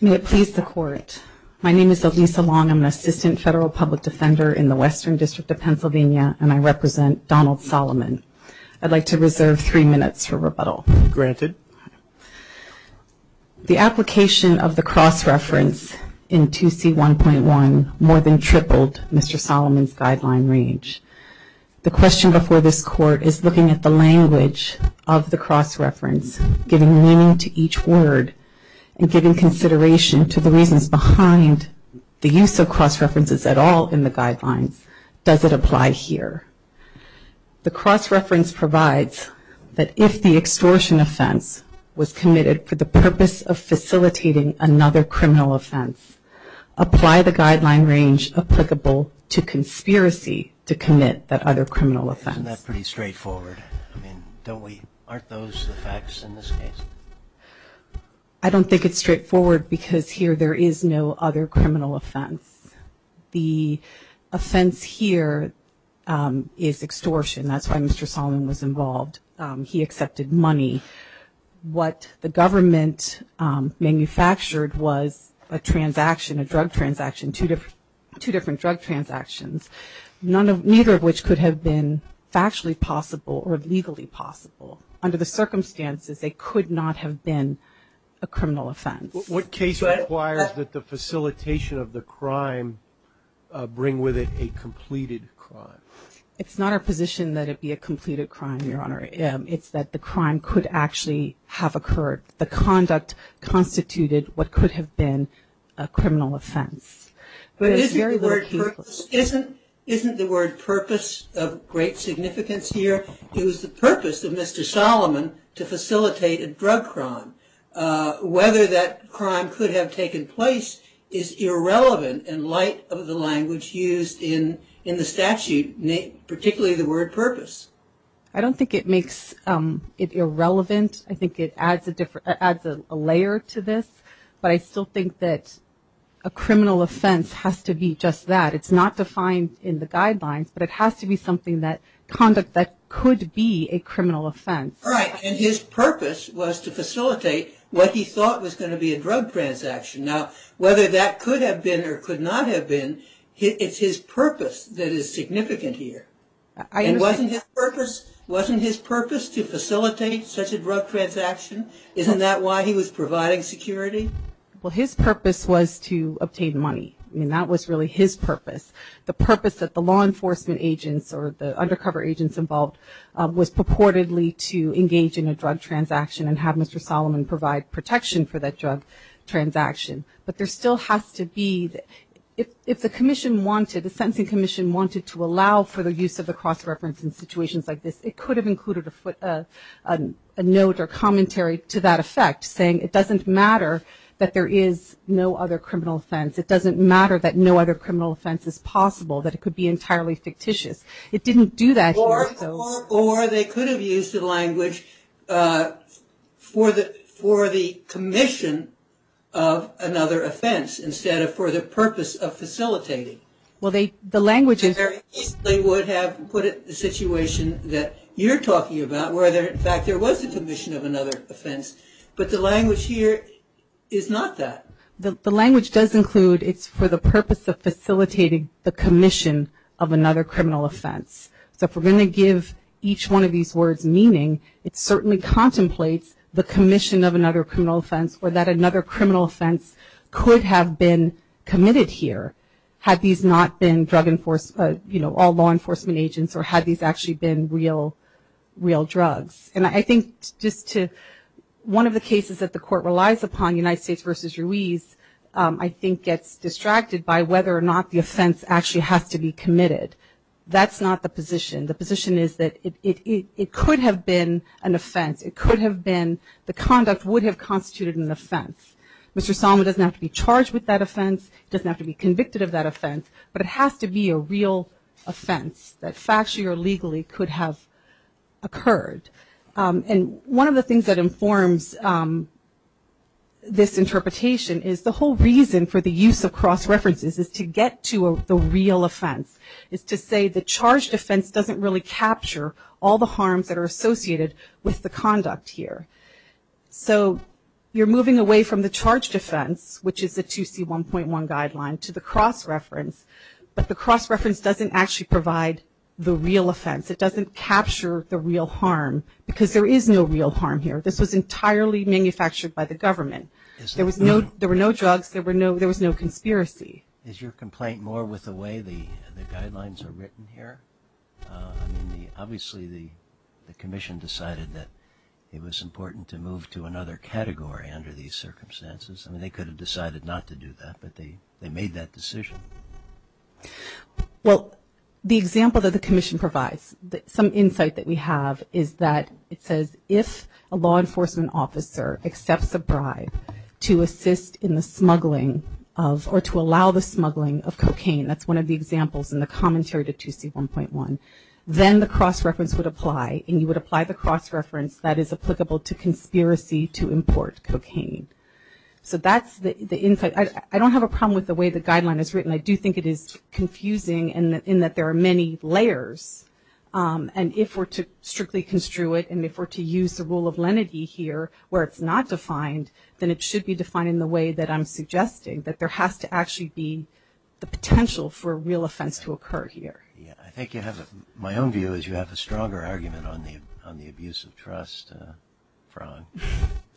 May it please the court. My name is Elisa Long. I'm an assistant federal public defender in the Western District of Pennsylvania and I represent Donald Solomon. I'd like to reserve three minutes for rebuttal. Granted. The application of the cross-reference in 2C1.1 more than tripled Mr. Solomon's guideline reach. The question before this court is looking at the language of the cross-reference, giving meaning to each word, and giving consideration to the reasons behind the use of cross-references at all in the guidelines. Does it apply here? The cross-reference provides that if the extortion offense was committed for the purpose of facilitating another criminal offense, apply the guideline range applicable to conspiracy to commit that other criminal offense. Isn't that pretty straightforward? I mean, don't we, aren't those the facts in this case? I don't think it's straightforward because here there is no other criminal offense. The offense here is extortion. That's why Mr. Solomon was involved. He accepted money. What the government manufactured was a transaction, a drug transaction, two different drug transactions, neither of which could have been factually possible or legally possible. Under the circumstances, they could not have been a criminal offense. What case requires that the facilitation of the crime bring with it a completed crime? It's not our position that it be a completed crime, Your Honor. It's that the crime could actually have occurred. The conduct constituted what could have been a criminal offense. But isn't the word purpose of great significance here? It was the purpose of Mr. Solomon to facilitate a drug crime. Whether that crime could have taken place is irrelevant in light of the language used in the statute, particularly the word purpose. I don't think it makes it irrelevant. I think it adds a layer to this. But I still think that a criminal offense has to be just that. It's not defined in the guidelines, but it has to be something that conduct that could be a criminal offense. All right. And his purpose was to facilitate what he thought was going to be a drug transaction. Now, whether that could have been or could not have been, it's his purpose that is significant here. Wasn't his purpose to facilitate such a drug transaction? Isn't that why he was providing security? Well, his purpose was to obtain money. I mean, that was really his purpose. The purpose that the law enforcement agents or the undercover agents involved was purportedly to engage in a drug transaction and have Mr. Solomon provide protection for that drug transaction. But there still has to be, if the commission wanted, the sentencing commission wanted to allow for the use of the cross-reference in situations like this, it could have included a note or commentary to that effect saying it doesn't matter that there is no other criminal offense. It doesn't matter that no other criminal offense is possible, that it could be entirely fictitious. It didn't do that. Or they could have used the language for the commission of another offense instead of for the purpose of facilitating. Well, the language is... They would have put it in the situation that you're talking about where, in fact, there was a commission of another offense, but the language here is not that. The language does include it's for the purpose of facilitating the commission of another criminal offense. So if we're going to give each one of these words meaning, it certainly contemplates the commission of another criminal offense or that another criminal offense could have been committed here had these not been drug enforced, you know, all law enforcement agents or had these actually been real, real drugs. And I think just to one of the cases that the court relies upon, United States versus Ruiz, I think gets distracted by whether or not the offense actually has to be committed. That's not the position. The position is that it could have been an offense. It could have been the conduct would have constituted an offense. Mr. Salma doesn't have to be charged with that offense, doesn't have to be convicted of that offense, but it has to be a real offense that factually or legally could have occurred. And one of the things that informs this interpretation is the whole reason for the use of cross references is to get to the real offense. It's to say the charged offense doesn't really capture all the harms that are associated with the conduct here. So you're moving away from the charged offense, which is the 2C1.1 guideline to the cross reference, but the cross reference doesn't actually provide the real offense. It doesn't capture the real harm because there is no real harm here. This was entirely manufactured by the government. There were no drugs. There was no conspiracy. Is your complaint more with the way the guidelines are written here? I mean, obviously the commission decided that it was important to move to another category under these circumstances. I mean, they could have decided not to do that, but they made that decision. Well, the example that the commission provides, some insight that we have is that it says, if a law enforcement officer accepts a bribe to assist in the smuggling of or to allow the smuggling of cocaine, that's one of the examples in the commentary to 2C1.1, then the cross reference would apply, and you would apply the cross reference that is applicable to conspiracy to import cocaine. So that's the insight. I don't have a problem with the way the guideline is written. I do think it is confusing in that there are many layers, and if we're to strictly construe it, and if we're to use the rule of lenity here, where it's not defined, then it should be defined in the way that I'm suggesting, that there has to actually be the potential for a real offense to occur here. Yeah, I think you have, my own view is you have a stronger argument on the abuse of trust fraud.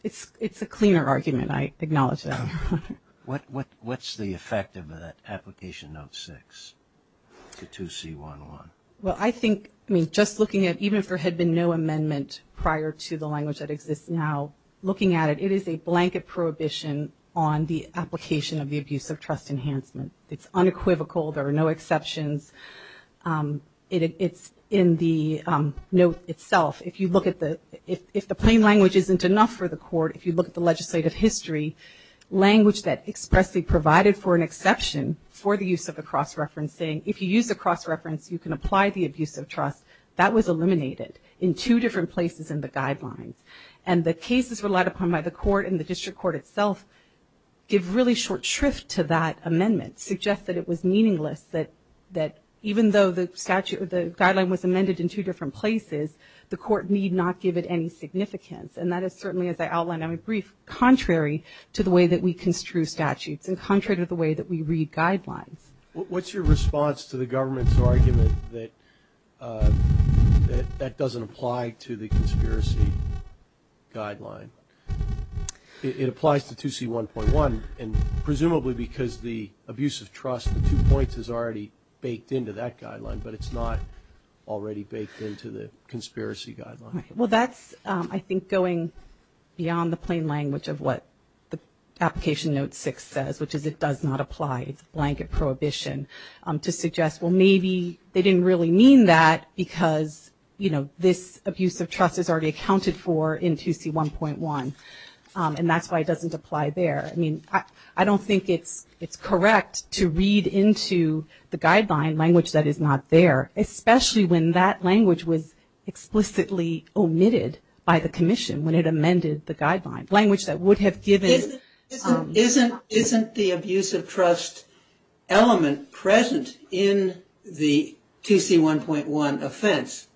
It's a cleaner argument. I acknowledge that, Your Honor. What's the effect of that application note 6 to 2C1.1? Well, I think, I mean, just looking at, even if there had been no amendment prior to the language that exists now, looking at it, it is a blanket prohibition on the application of the abuse of trust enhancement. It's unequivocal. There are no exceptions. It's in the note itself. If you look at the, if the plain language isn't enough for the court, if you look at the legislative history, language that expressly provided for an exception for the use of a cross-reference saying, if you use a cross-reference, you can apply the abuse of trust, that was eliminated in two different places in the guidelines. And the cases relied upon by the court and the district court itself give really short shrift to that amendment, suggest that it was meaningless, that even though the statute, the guideline was amended in two different places, the court need not give it any significance. And that is certainly, as I outlined in my brief, contrary to the way that we construe statutes and contrary to the way that we read guidelines. What's your response to the government's argument that that doesn't apply to the conspiracy guideline? It applies to 2C1.1, and presumably because the abuse of trust, the two points is already baked into that guideline, but it's not already baked into the conspiracy guideline. Well, that's, I think, going beyond the plain language of what the application note six says, which is it does not apply, it's a blanket prohibition, to suggest, well, maybe they didn't really mean that because, you know, this abuse of trust is already accounted for in 2C1.1, and that's why it doesn't apply there. I mean, I don't think it's correct to read into the guideline language that is not there, especially when that language was explicitly omitted by the commission when it amended the guideline, Isn't the abuse of trust element present in the 2C1.1 offense?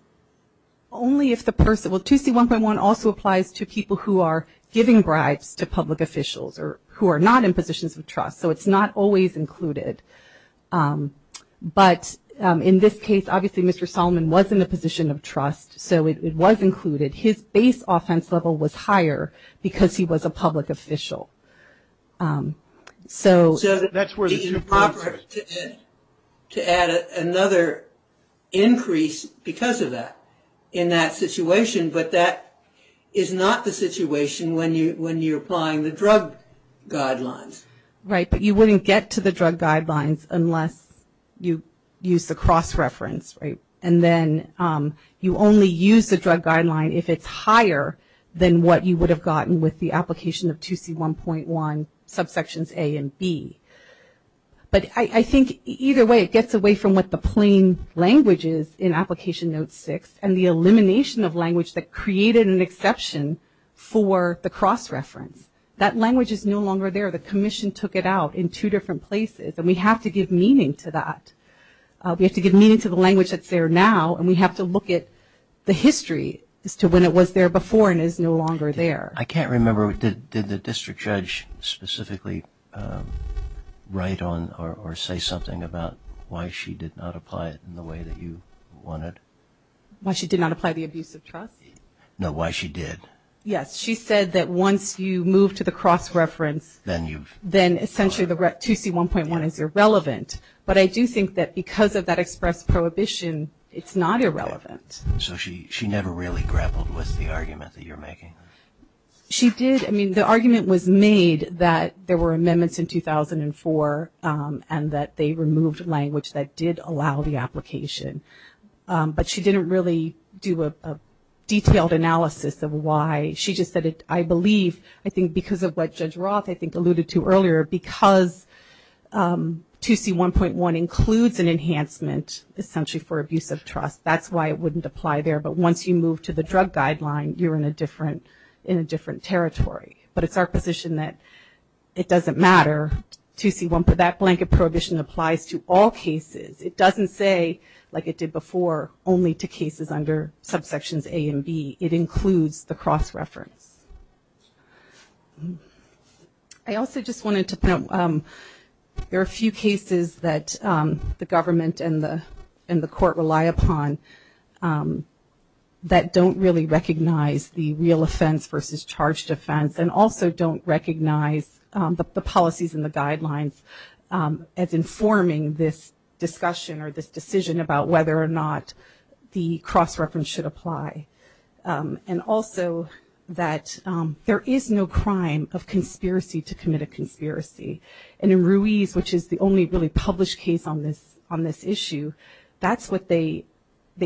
Only if the person, well, 2C1.1 also applies to people who are giving bribes to public officials or who are not in positions of trust, so it's not always included. But in this case, obviously, Mr. Solomon was in a position of trust, so it was included. His base offense level was higher because he was a public official. So to add another increase because of that in that situation, but that is not the situation when you're applying the drug guidelines. Right, but you wouldn't get to the drug guidelines unless you use the cross-reference, right? And then you only use the drug guideline if it's higher than what you would have gotten with the application of 2C1.1 subsections A and B. But I think either way, it gets away from what the plain language is in Application Note 6 and the elimination of language that created an exception for the cross-reference. That language is no longer there. The commission took it out in two different places, and we have to give meaning to that. We have to give meaning to the language that's there now, and we have to look at the history as to when it was there before and is no longer there. I can't remember, did the district judge specifically write on or say something about why she did not apply it in the way that you wanted? Why she did not apply the abuse of trust? No, why she did. Yes, she said that once you move to the cross-reference, then essentially the 2C1.1 is irrelevant. But I do think that because of that express prohibition, it's not irrelevant. So she never really grappled with the argument that you're making? She did. I mean, the argument was made that there were amendments in 2004 and that they removed language that did allow the application. But she didn't really do a detailed analysis of why. She just said, I believe, I think because of what Judge Roth alluded to earlier, because 2C1.1 includes an enhancement essentially for abuse of trust, that's why it wouldn't apply there. But once you move to the drug guideline, you're in a different territory. But it's our position that it doesn't matter. That blanket prohibition applies to all cases. It doesn't say, like it did before, only to cases under subsections A and B. It includes the cross-reference. I also just wanted to point out there are a few cases that the government and the court rely upon that don't really recognize the real offense versus charged offense and also don't recognize the policies and the guidelines as informing this discussion or this decision about whether or not the cross-reference should apply. And also that there is no crime of conspiracy to commit a conspiracy. And in Ruiz, which is the only really published case on this issue, that's what they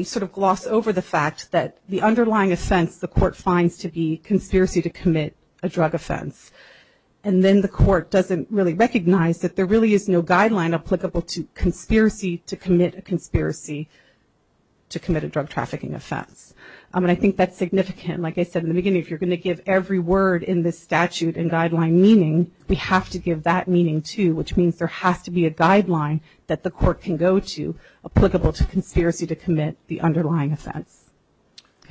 sort of gloss over the fact that the underlying offense the court finds to be conspiracy to commit a drug offense. And then the court doesn't really recognize that there really is no guideline applicable to conspiracy to commit a drug trafficking offense. And I think that's significant. Like I said in the beginning, if you're going to give every word in this statute and guideline meaning, we have to give that meaning too, which means there has to be a guideline that the court can go to applicable to conspiracy to commit the underlying offense.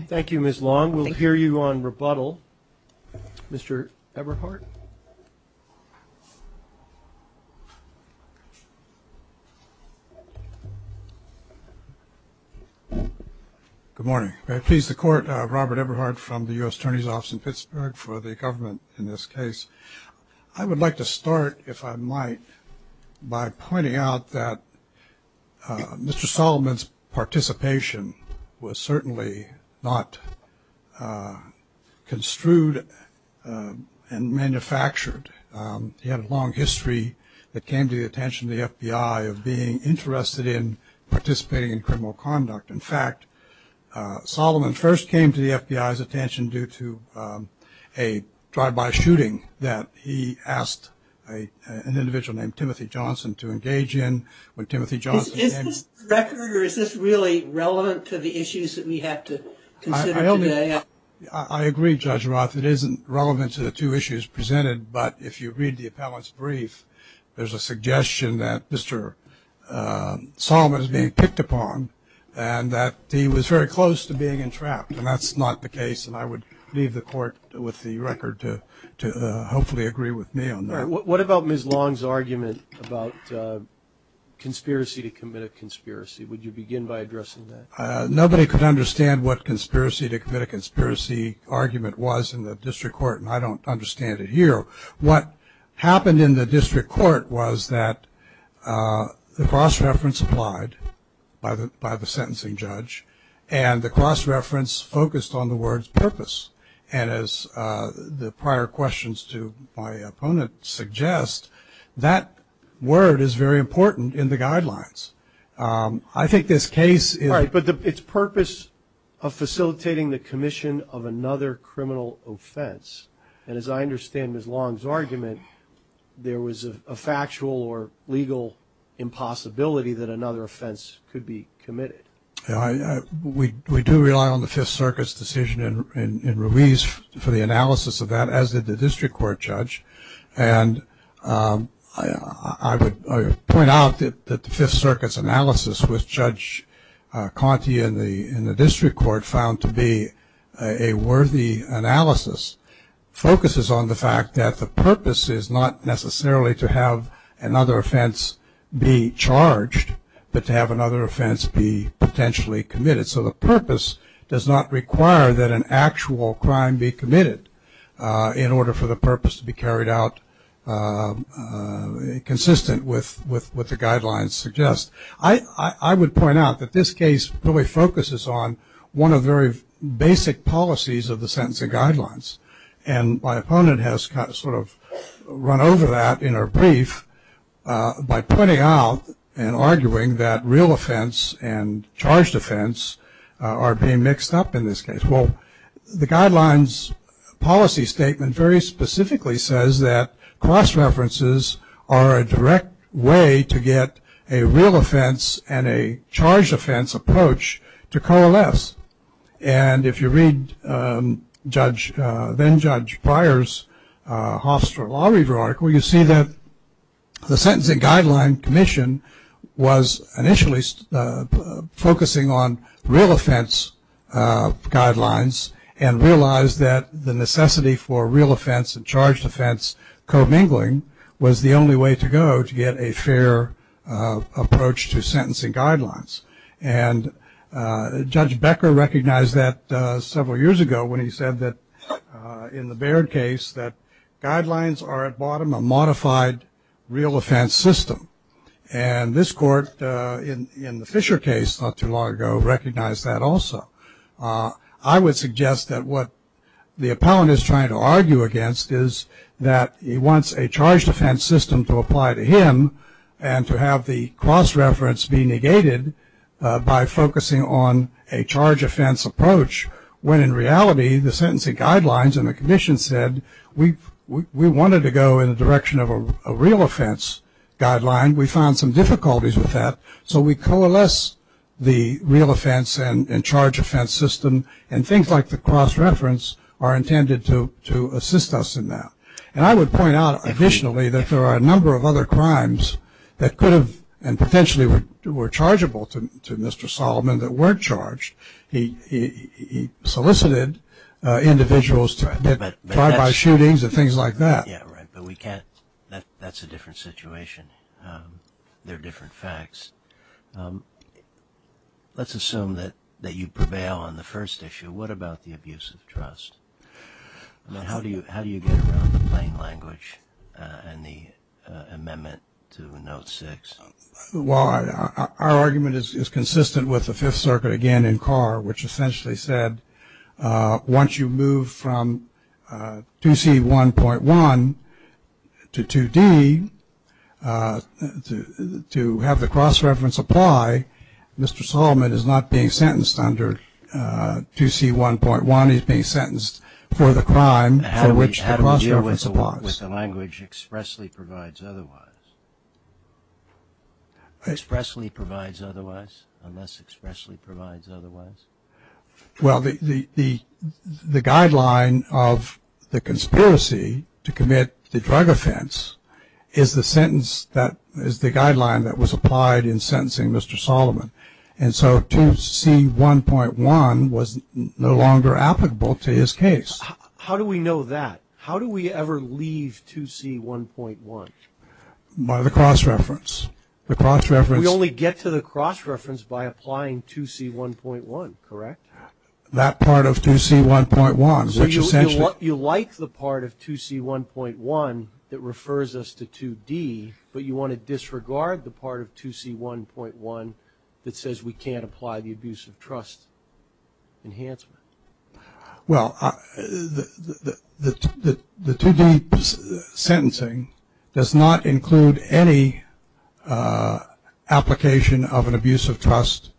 Thank you, Ms. Long. We'll hear you on rebuttal. Mr. Eberhardt. Good morning. May it please the Court, Robert Eberhardt from the U.S. Attorney's Office in Pittsburgh for the government in this case. I would like to start, if I might, by pointing out that Mr. Solomon's participation was certainly not construed and manufactured. He had a long history that came to the attention of the FBI of being interested in participating in criminal conduct. In fact, Solomon first came to the FBI's attention due to a drive-by shooting that he asked an individual named Timothy Johnson to engage in. Is this record or is this really relevant to the issues that we have to consider today? I agree, Judge Roth. It isn't relevant to the two issues presented. But if you read the appellant's brief, there's a suggestion that Mr. Solomon is being picked upon and that he was very close to being entrapped. And that's not the case. And I would leave the Court with the record to hopefully agree with me on that. What about Ms. Long's argument about conspiracy to commit a conspiracy? Would you begin by addressing that? Nobody could understand what conspiracy to commit a conspiracy argument was in the district court, and I don't understand it here. What happened in the district court was that the cross-reference applied by the sentencing judge, and the cross-reference focused on the word purpose. And as the prior questions to my opponent suggest, that word is very important in the guidelines. I think this case is – Right, but its purpose of facilitating the commission of another criminal offense. And as I understand Ms. Long's argument, there was a factual or legal impossibility that another offense could be committed. We do rely on the Fifth Circuit's decision in Ruiz for the analysis of that, as did the district court judge. And I would point out that the Fifth Circuit's analysis, which Judge Conte in the district court found to be a worthy analysis, focuses on the fact that the purpose is not necessarily to have another offense be charged, but to have another offense be potentially committed. So the purpose does not require that an actual crime be committed in order for the purpose to be carried out consistent with what the guidelines suggest. I would point out that this case really focuses on one of the very basic policies of the sentencing guidelines. And my opponent has sort of run over that in her brief by pointing out and arguing that real offense and charged offense are being mixed up in this case. Well, the guidelines policy statement very specifically says that cross-references are a direct way to get a real offense and a charged offense approach to coalesce. And if you read then-Judge Pryor's Hofstra Law Review article, you see that the Sentencing Guidelines Commission was initially focusing on real offense guidelines and realized that the necessity for real offense and charged offense co-mingling was the only way to go to get a fair approach to sentencing guidelines. And Judge Becker recognized that several years ago when he said that in the Baird case that guidelines are at bottom a modified real offense system. And this court in the Fisher case not too long ago recognized that also. I would suggest that what the appellant is trying to argue against is that he wants a charged offense system to apply to him and to have the cross-reference be negated by focusing on a charged offense approach when in reality the Sentencing Guidelines and the Commission said we wanted to go in the direction of a real offense guideline. We found some difficulties with that. So we coalesce the real offense and charged offense system. And things like the cross-reference are intended to assist us in that. And I would point out additionally that there are a number of other crimes that could have and potentially were chargeable to Mr. Solomon that weren't charged. He solicited individuals to get tried by shootings and things like that. Yeah, right, but we can't. That's a different situation. They're different facts. Let's assume that you prevail on the first issue. What about the abuse of trust? How do you get around the plain language and the amendment to Note 6? Well, our argument is consistent with the Fifth Circuit again in Carr, which essentially said once you move from 2C1.1 to 2D to have the cross-reference apply, Mr. Solomon is not being sentenced under 2C1.1. He's being sentenced for the crime for which the cross-reference applies. How do we deal with the language expressly provides otherwise? Expressly provides otherwise? Unless expressly provides otherwise? Well, the guideline of the conspiracy to commit the drug offense is the sentence that is the guideline that was applied in sentencing Mr. Solomon. And so 2C1.1 was no longer applicable to his case. How do we know that? How do we ever leave 2C1.1? By the cross-reference. We only get to the cross-reference by applying 2C1.1, correct? That part of 2C1.1, which essentially – You like the part of 2C1.1 that refers us to 2D, but you want to disregard the part of 2C1.1 that says we can't apply the abusive trust enhancement. Well, the 2D sentencing does not include any application of an abusive trust,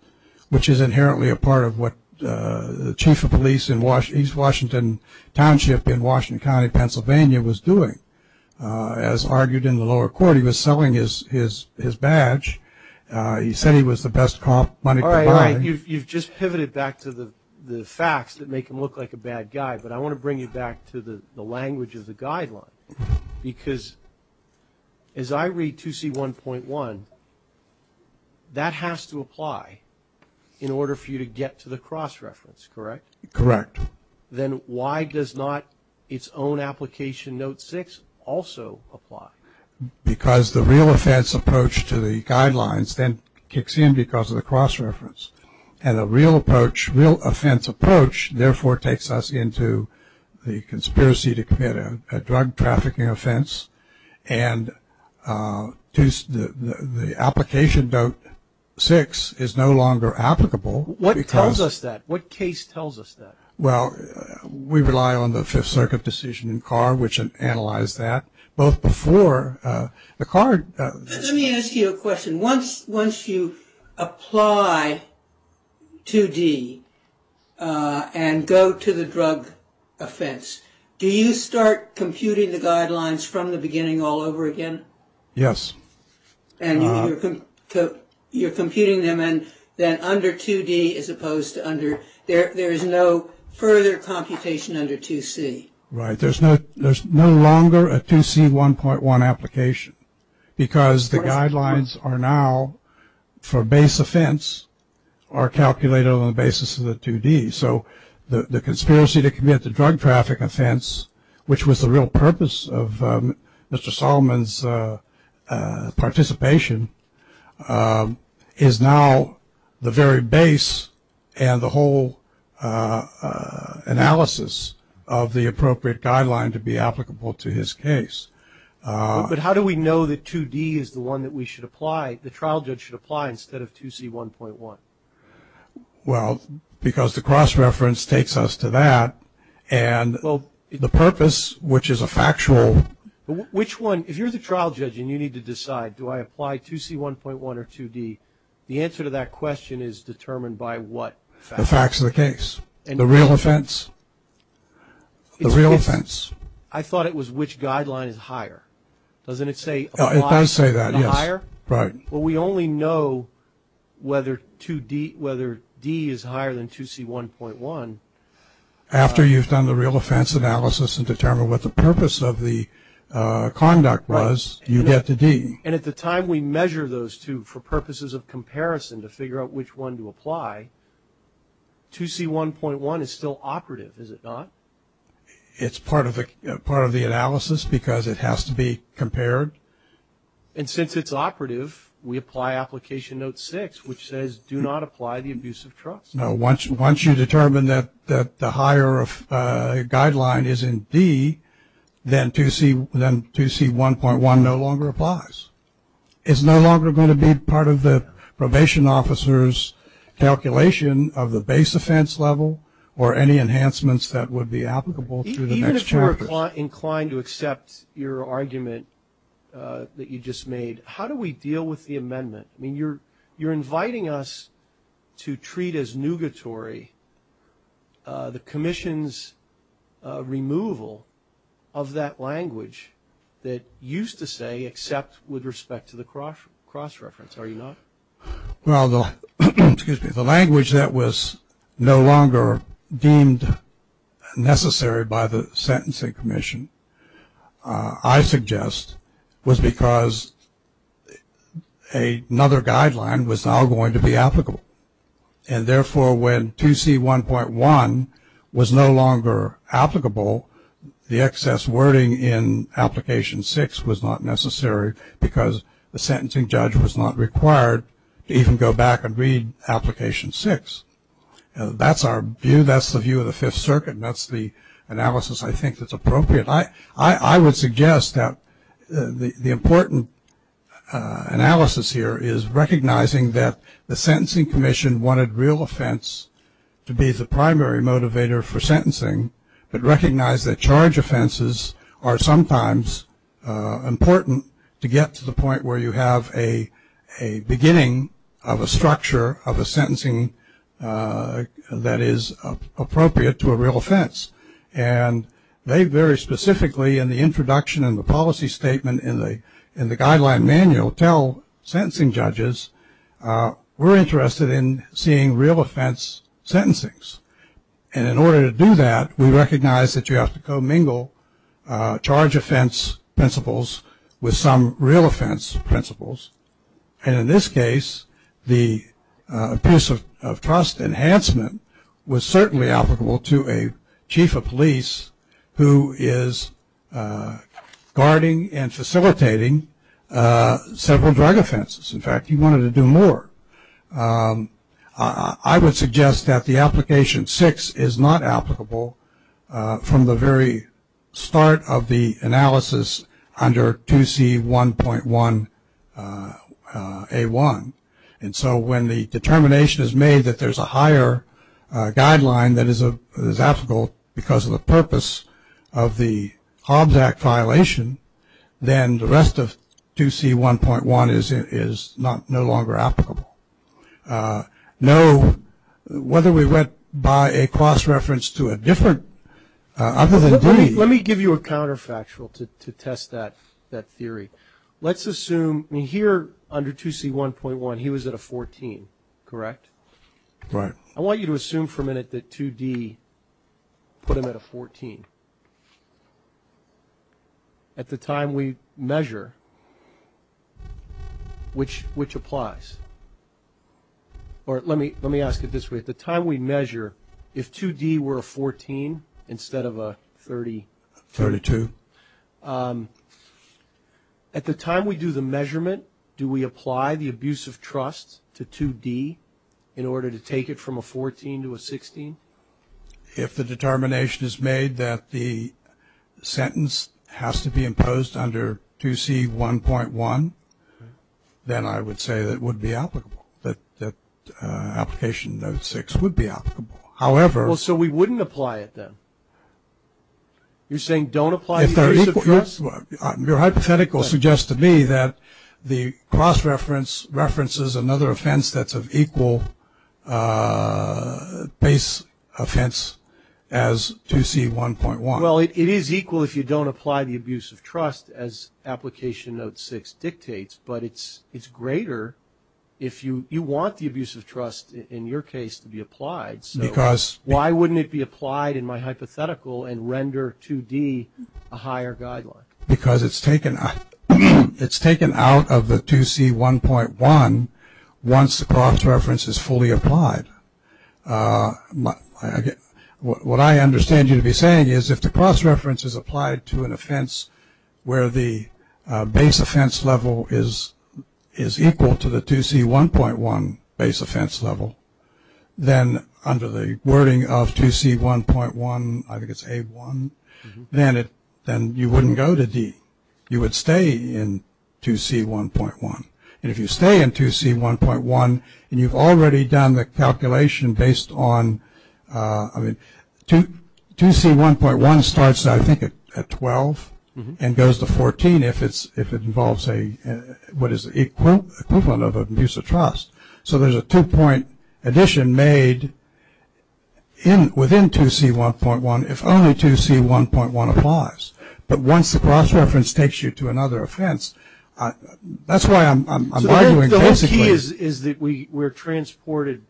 which is inherently a part of what the chief of police in East Washington Township in Washington County, Pennsylvania, was doing. As argued in the lower court, he was selling his badge. He said he was the best money provider. All right, all right. You've just pivoted back to the facts that make him look like a bad guy, because as I read 2C1.1, that has to apply in order for you to get to the cross-reference, correct? Correct. Then why does not its own application, Note 6, also apply? Because the real offense approach to the guidelines then kicks in because of the cross-reference. And the real approach, real offense approach, therefore takes us into the conspiracy to commit a drug trafficking offense. And the application, Note 6, is no longer applicable. What tells us that? What case tells us that? Well, we rely on the Fifth Circuit decision in Carr, which analyzed that. Let me ask you a question. Once you apply 2D and go to the drug offense, do you start computing the guidelines from the beginning all over again? Yes. And you're computing them, and then under 2D as opposed to under, there is no further computation under 2C. Right. There is no longer a 2C1.1 application, because the guidelines are now for base offense are calculated on the basis of the 2D. So the conspiracy to commit the drug traffic offense, which was the real purpose of Mr. Solomon's participation, is now the very base and the whole analysis of the appropriate guideline to be applicable to his case. But how do we know that 2D is the one that we should apply, the trial judge should apply instead of 2C1.1? Well, because the cross-reference takes us to that, and the purpose, which is a factual. Which one? If you're the trial judge and you need to decide, do I apply 2C1.1 or 2D, the answer to that question is determined by what facts? The facts of the case. And the real offense? The real offense. I thought it was which guideline is higher. Doesn't it say? It does say that, yes. The higher? Right. Well, we only know whether 2D, whether D is higher than 2C1.1. After you've done the real offense analysis and determined what the purpose of the conduct was, you get to D. And at the time we measure those two for purposes of comparison to figure out which one to apply, 2C1.1 is still operative, is it not? It's part of the analysis because it has to be compared. And since it's operative, we apply application note six, which says do not apply the abuse of trust. No, once you determine that the higher guideline is in D, then 2C1.1 no longer applies. It's no longer going to be part of the probation officer's calculation of the base offense level or any enhancements that would be applicable to the next chapter. Even if you were inclined to accept your argument that you just made, how do we deal with the amendment? I mean, you're inviting us to treat as nugatory the commission's removal of that language that used to say accept with respect to the cross-reference, are you not? Well, the language that was no longer deemed necessary by the sentencing commission, I suggest, was because another guideline was now going to be applicable. And therefore, when 2C1.1 was no longer applicable, the excess wording in application six was not necessary because the sentencing judge was not required to even go back and read application six. That's our view, that's the view of the Fifth Circuit, and that's the analysis I think that's appropriate. I would suggest that the important analysis here is recognizing that the sentencing commission wanted real offense to be the primary motivator for sentencing, but recognize that charge offenses are sometimes important to get to the point where you have a beginning of a structure of a sentencing that is appropriate to a real offense. And they very specifically in the introduction and the policy statement in the guideline manual tell sentencing judges, we're interested in seeing real offense sentencings. And in order to do that, we recognize that you have to co-mingle charge offense principles with some real offense principles. And in this case, the piece of trust enhancement was certainly applicable to a chief of police who is guarding and facilitating several drug offenses. In fact, he wanted to do more. I would suggest that the application six is not applicable from the very start of the analysis under 2C1.1A1. And so when the determination is made that there's a higher guideline that is applicable because of the purpose of the Hobbs Act know whether we went by a cross reference to a different other than D. Let me give you a counterfactual to test that theory. Let's assume here under 2C1.1 he was at a 14, correct? Right. I want you to assume for a minute that 2D put him at a 14. At the time we measure, which applies? Or let me ask it this way. At the time we measure, if 2D were a 14 instead of a 32, at the time we do the measurement, do we apply the abuse of trust to 2D in order to take it from a 14 to a 16? If the determination is made that the sentence has to be imposed under 2C1.1, then I would say that it would be applicable, that application note six would be applicable. So we wouldn't apply it then? You're saying don't apply the abuse of trust? Your hypothetical suggests to me that the cross reference references another offense that's of equal base offense as 2C1.1. Well, it is equal if you don't apply the abuse of trust as application note six dictates, but it's greater if you want the abuse of trust in your case to be applied. So why wouldn't it be applied in my hypothetical and render 2D a higher guideline? Because it's taken out of the 2C1.1 once the cross reference is fully applied. What I understand you to be saying is if the cross reference is applied to an offense where the base offense level is equal to the 2C1.1 base offense level, then under the wording of 2C1.1, I think it's A1, then you wouldn't go to D. You would stay in 2C1.1. And if you stay in 2C1.1 and you've already done the calculation based on, I mean, 2C1.1 starts, I think, at 12 and goes to 14 if it involves what is the equivalent of abuse of trust. So there's a two-point addition made within 2C1.1 if only 2C1.1 applies. But once the cross reference takes you to another offense, that's why I'm arguing basically. The key is that we're transported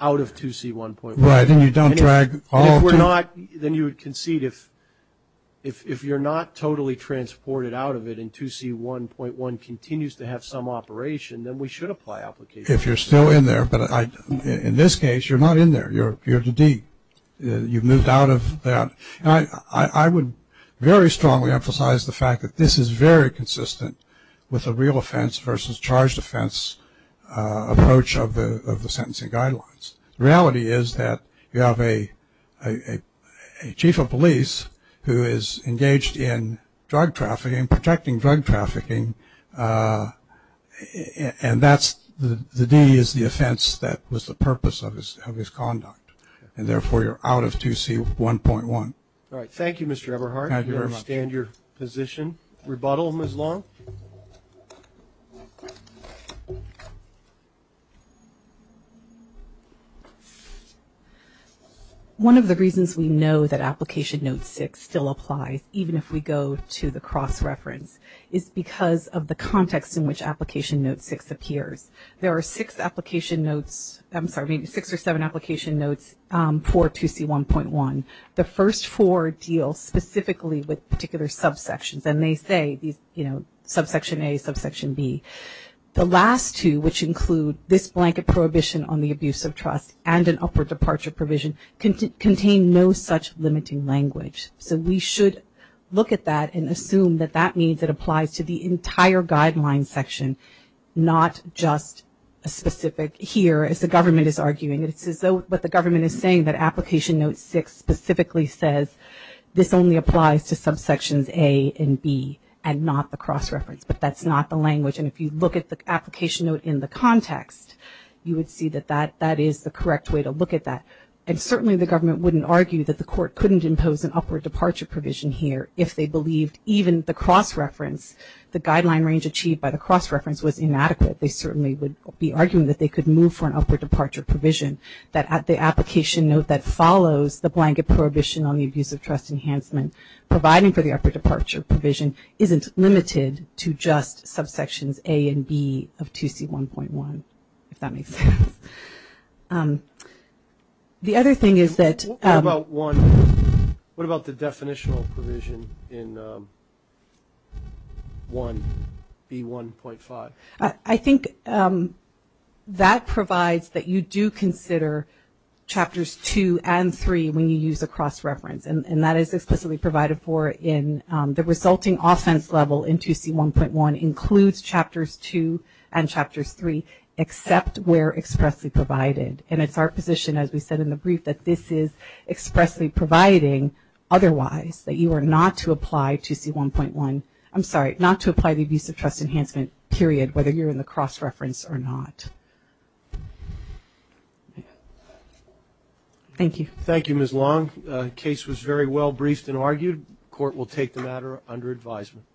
out of 2C1.1. Right. And then you don't drag all of them. Then you would concede if you're not totally transported out of it and 2C1.1 continues to have some operation, then we should apply application. If you're still in there. But in this case, you're not in there. You're at the D. You've moved out of that. I would very strongly emphasize the fact that this is very consistent with a real offense versus charged offense approach of the sentencing guidelines. The reality is that you have a chief of police who is engaged in drug trafficking, protecting drug trafficking, and that's the D is the offense that was the purpose of his conduct. And therefore, you're out of 2C1.1. All right. Thank you, Mr. Eberhardt. Thank you very much. I understand your position. Rebuttal, Ms. Long. One of the reasons we know that application note six still applies, even if we go to the cross-reference, is because of the context in which application note six appears. There are six application notes, I'm sorry, six or seven application notes for 2C1.1. The first four deal specifically with particular subsections. And they say, you know, subsection A, subsection B. The last two, which include this blanket prohibition on the abuse of trust and an upward departure provision, contain no such limiting language. So we should look at that and assume that that means it applies to the entire guideline section, not just a specific here, as the government is arguing. It's as though what the government is saying, that application note six specifically says, this only applies to subsections A and B and not the cross-reference. But that's not the language. And if you look at the application note in the context, you would see that that is the correct way to look at that. And certainly the government wouldn't argue that the court couldn't impose an upward departure provision here if they believed even the cross-reference, the guideline range achieved by the cross-reference was inadequate. They certainly would be arguing that they could move for an upward departure provision, that the application note that follows the blanket prohibition on the abuse of trust enhancement, providing for the upward departure provision, isn't limited to just subsections A and B of 2C1.1, if that makes sense. The other thing is that – What about the definitional provision in 1B1.5? I think that provides that you do consider chapters two and three when you use a cross-reference. And that is explicitly provided for in the resulting offense level in 2C1.1 includes chapters two and chapters three, except where expressly provided. And it's our position, as we said in the brief, that this is expressly providing otherwise, that you are not to apply 2C1.1 – I'm sorry, not to apply the abuse of trust enhancement, period, whether you're in the cross-reference or not. Thank you. Thank you, Ms. Long. The case was very well briefed and argued. The court will take the matter under advisement.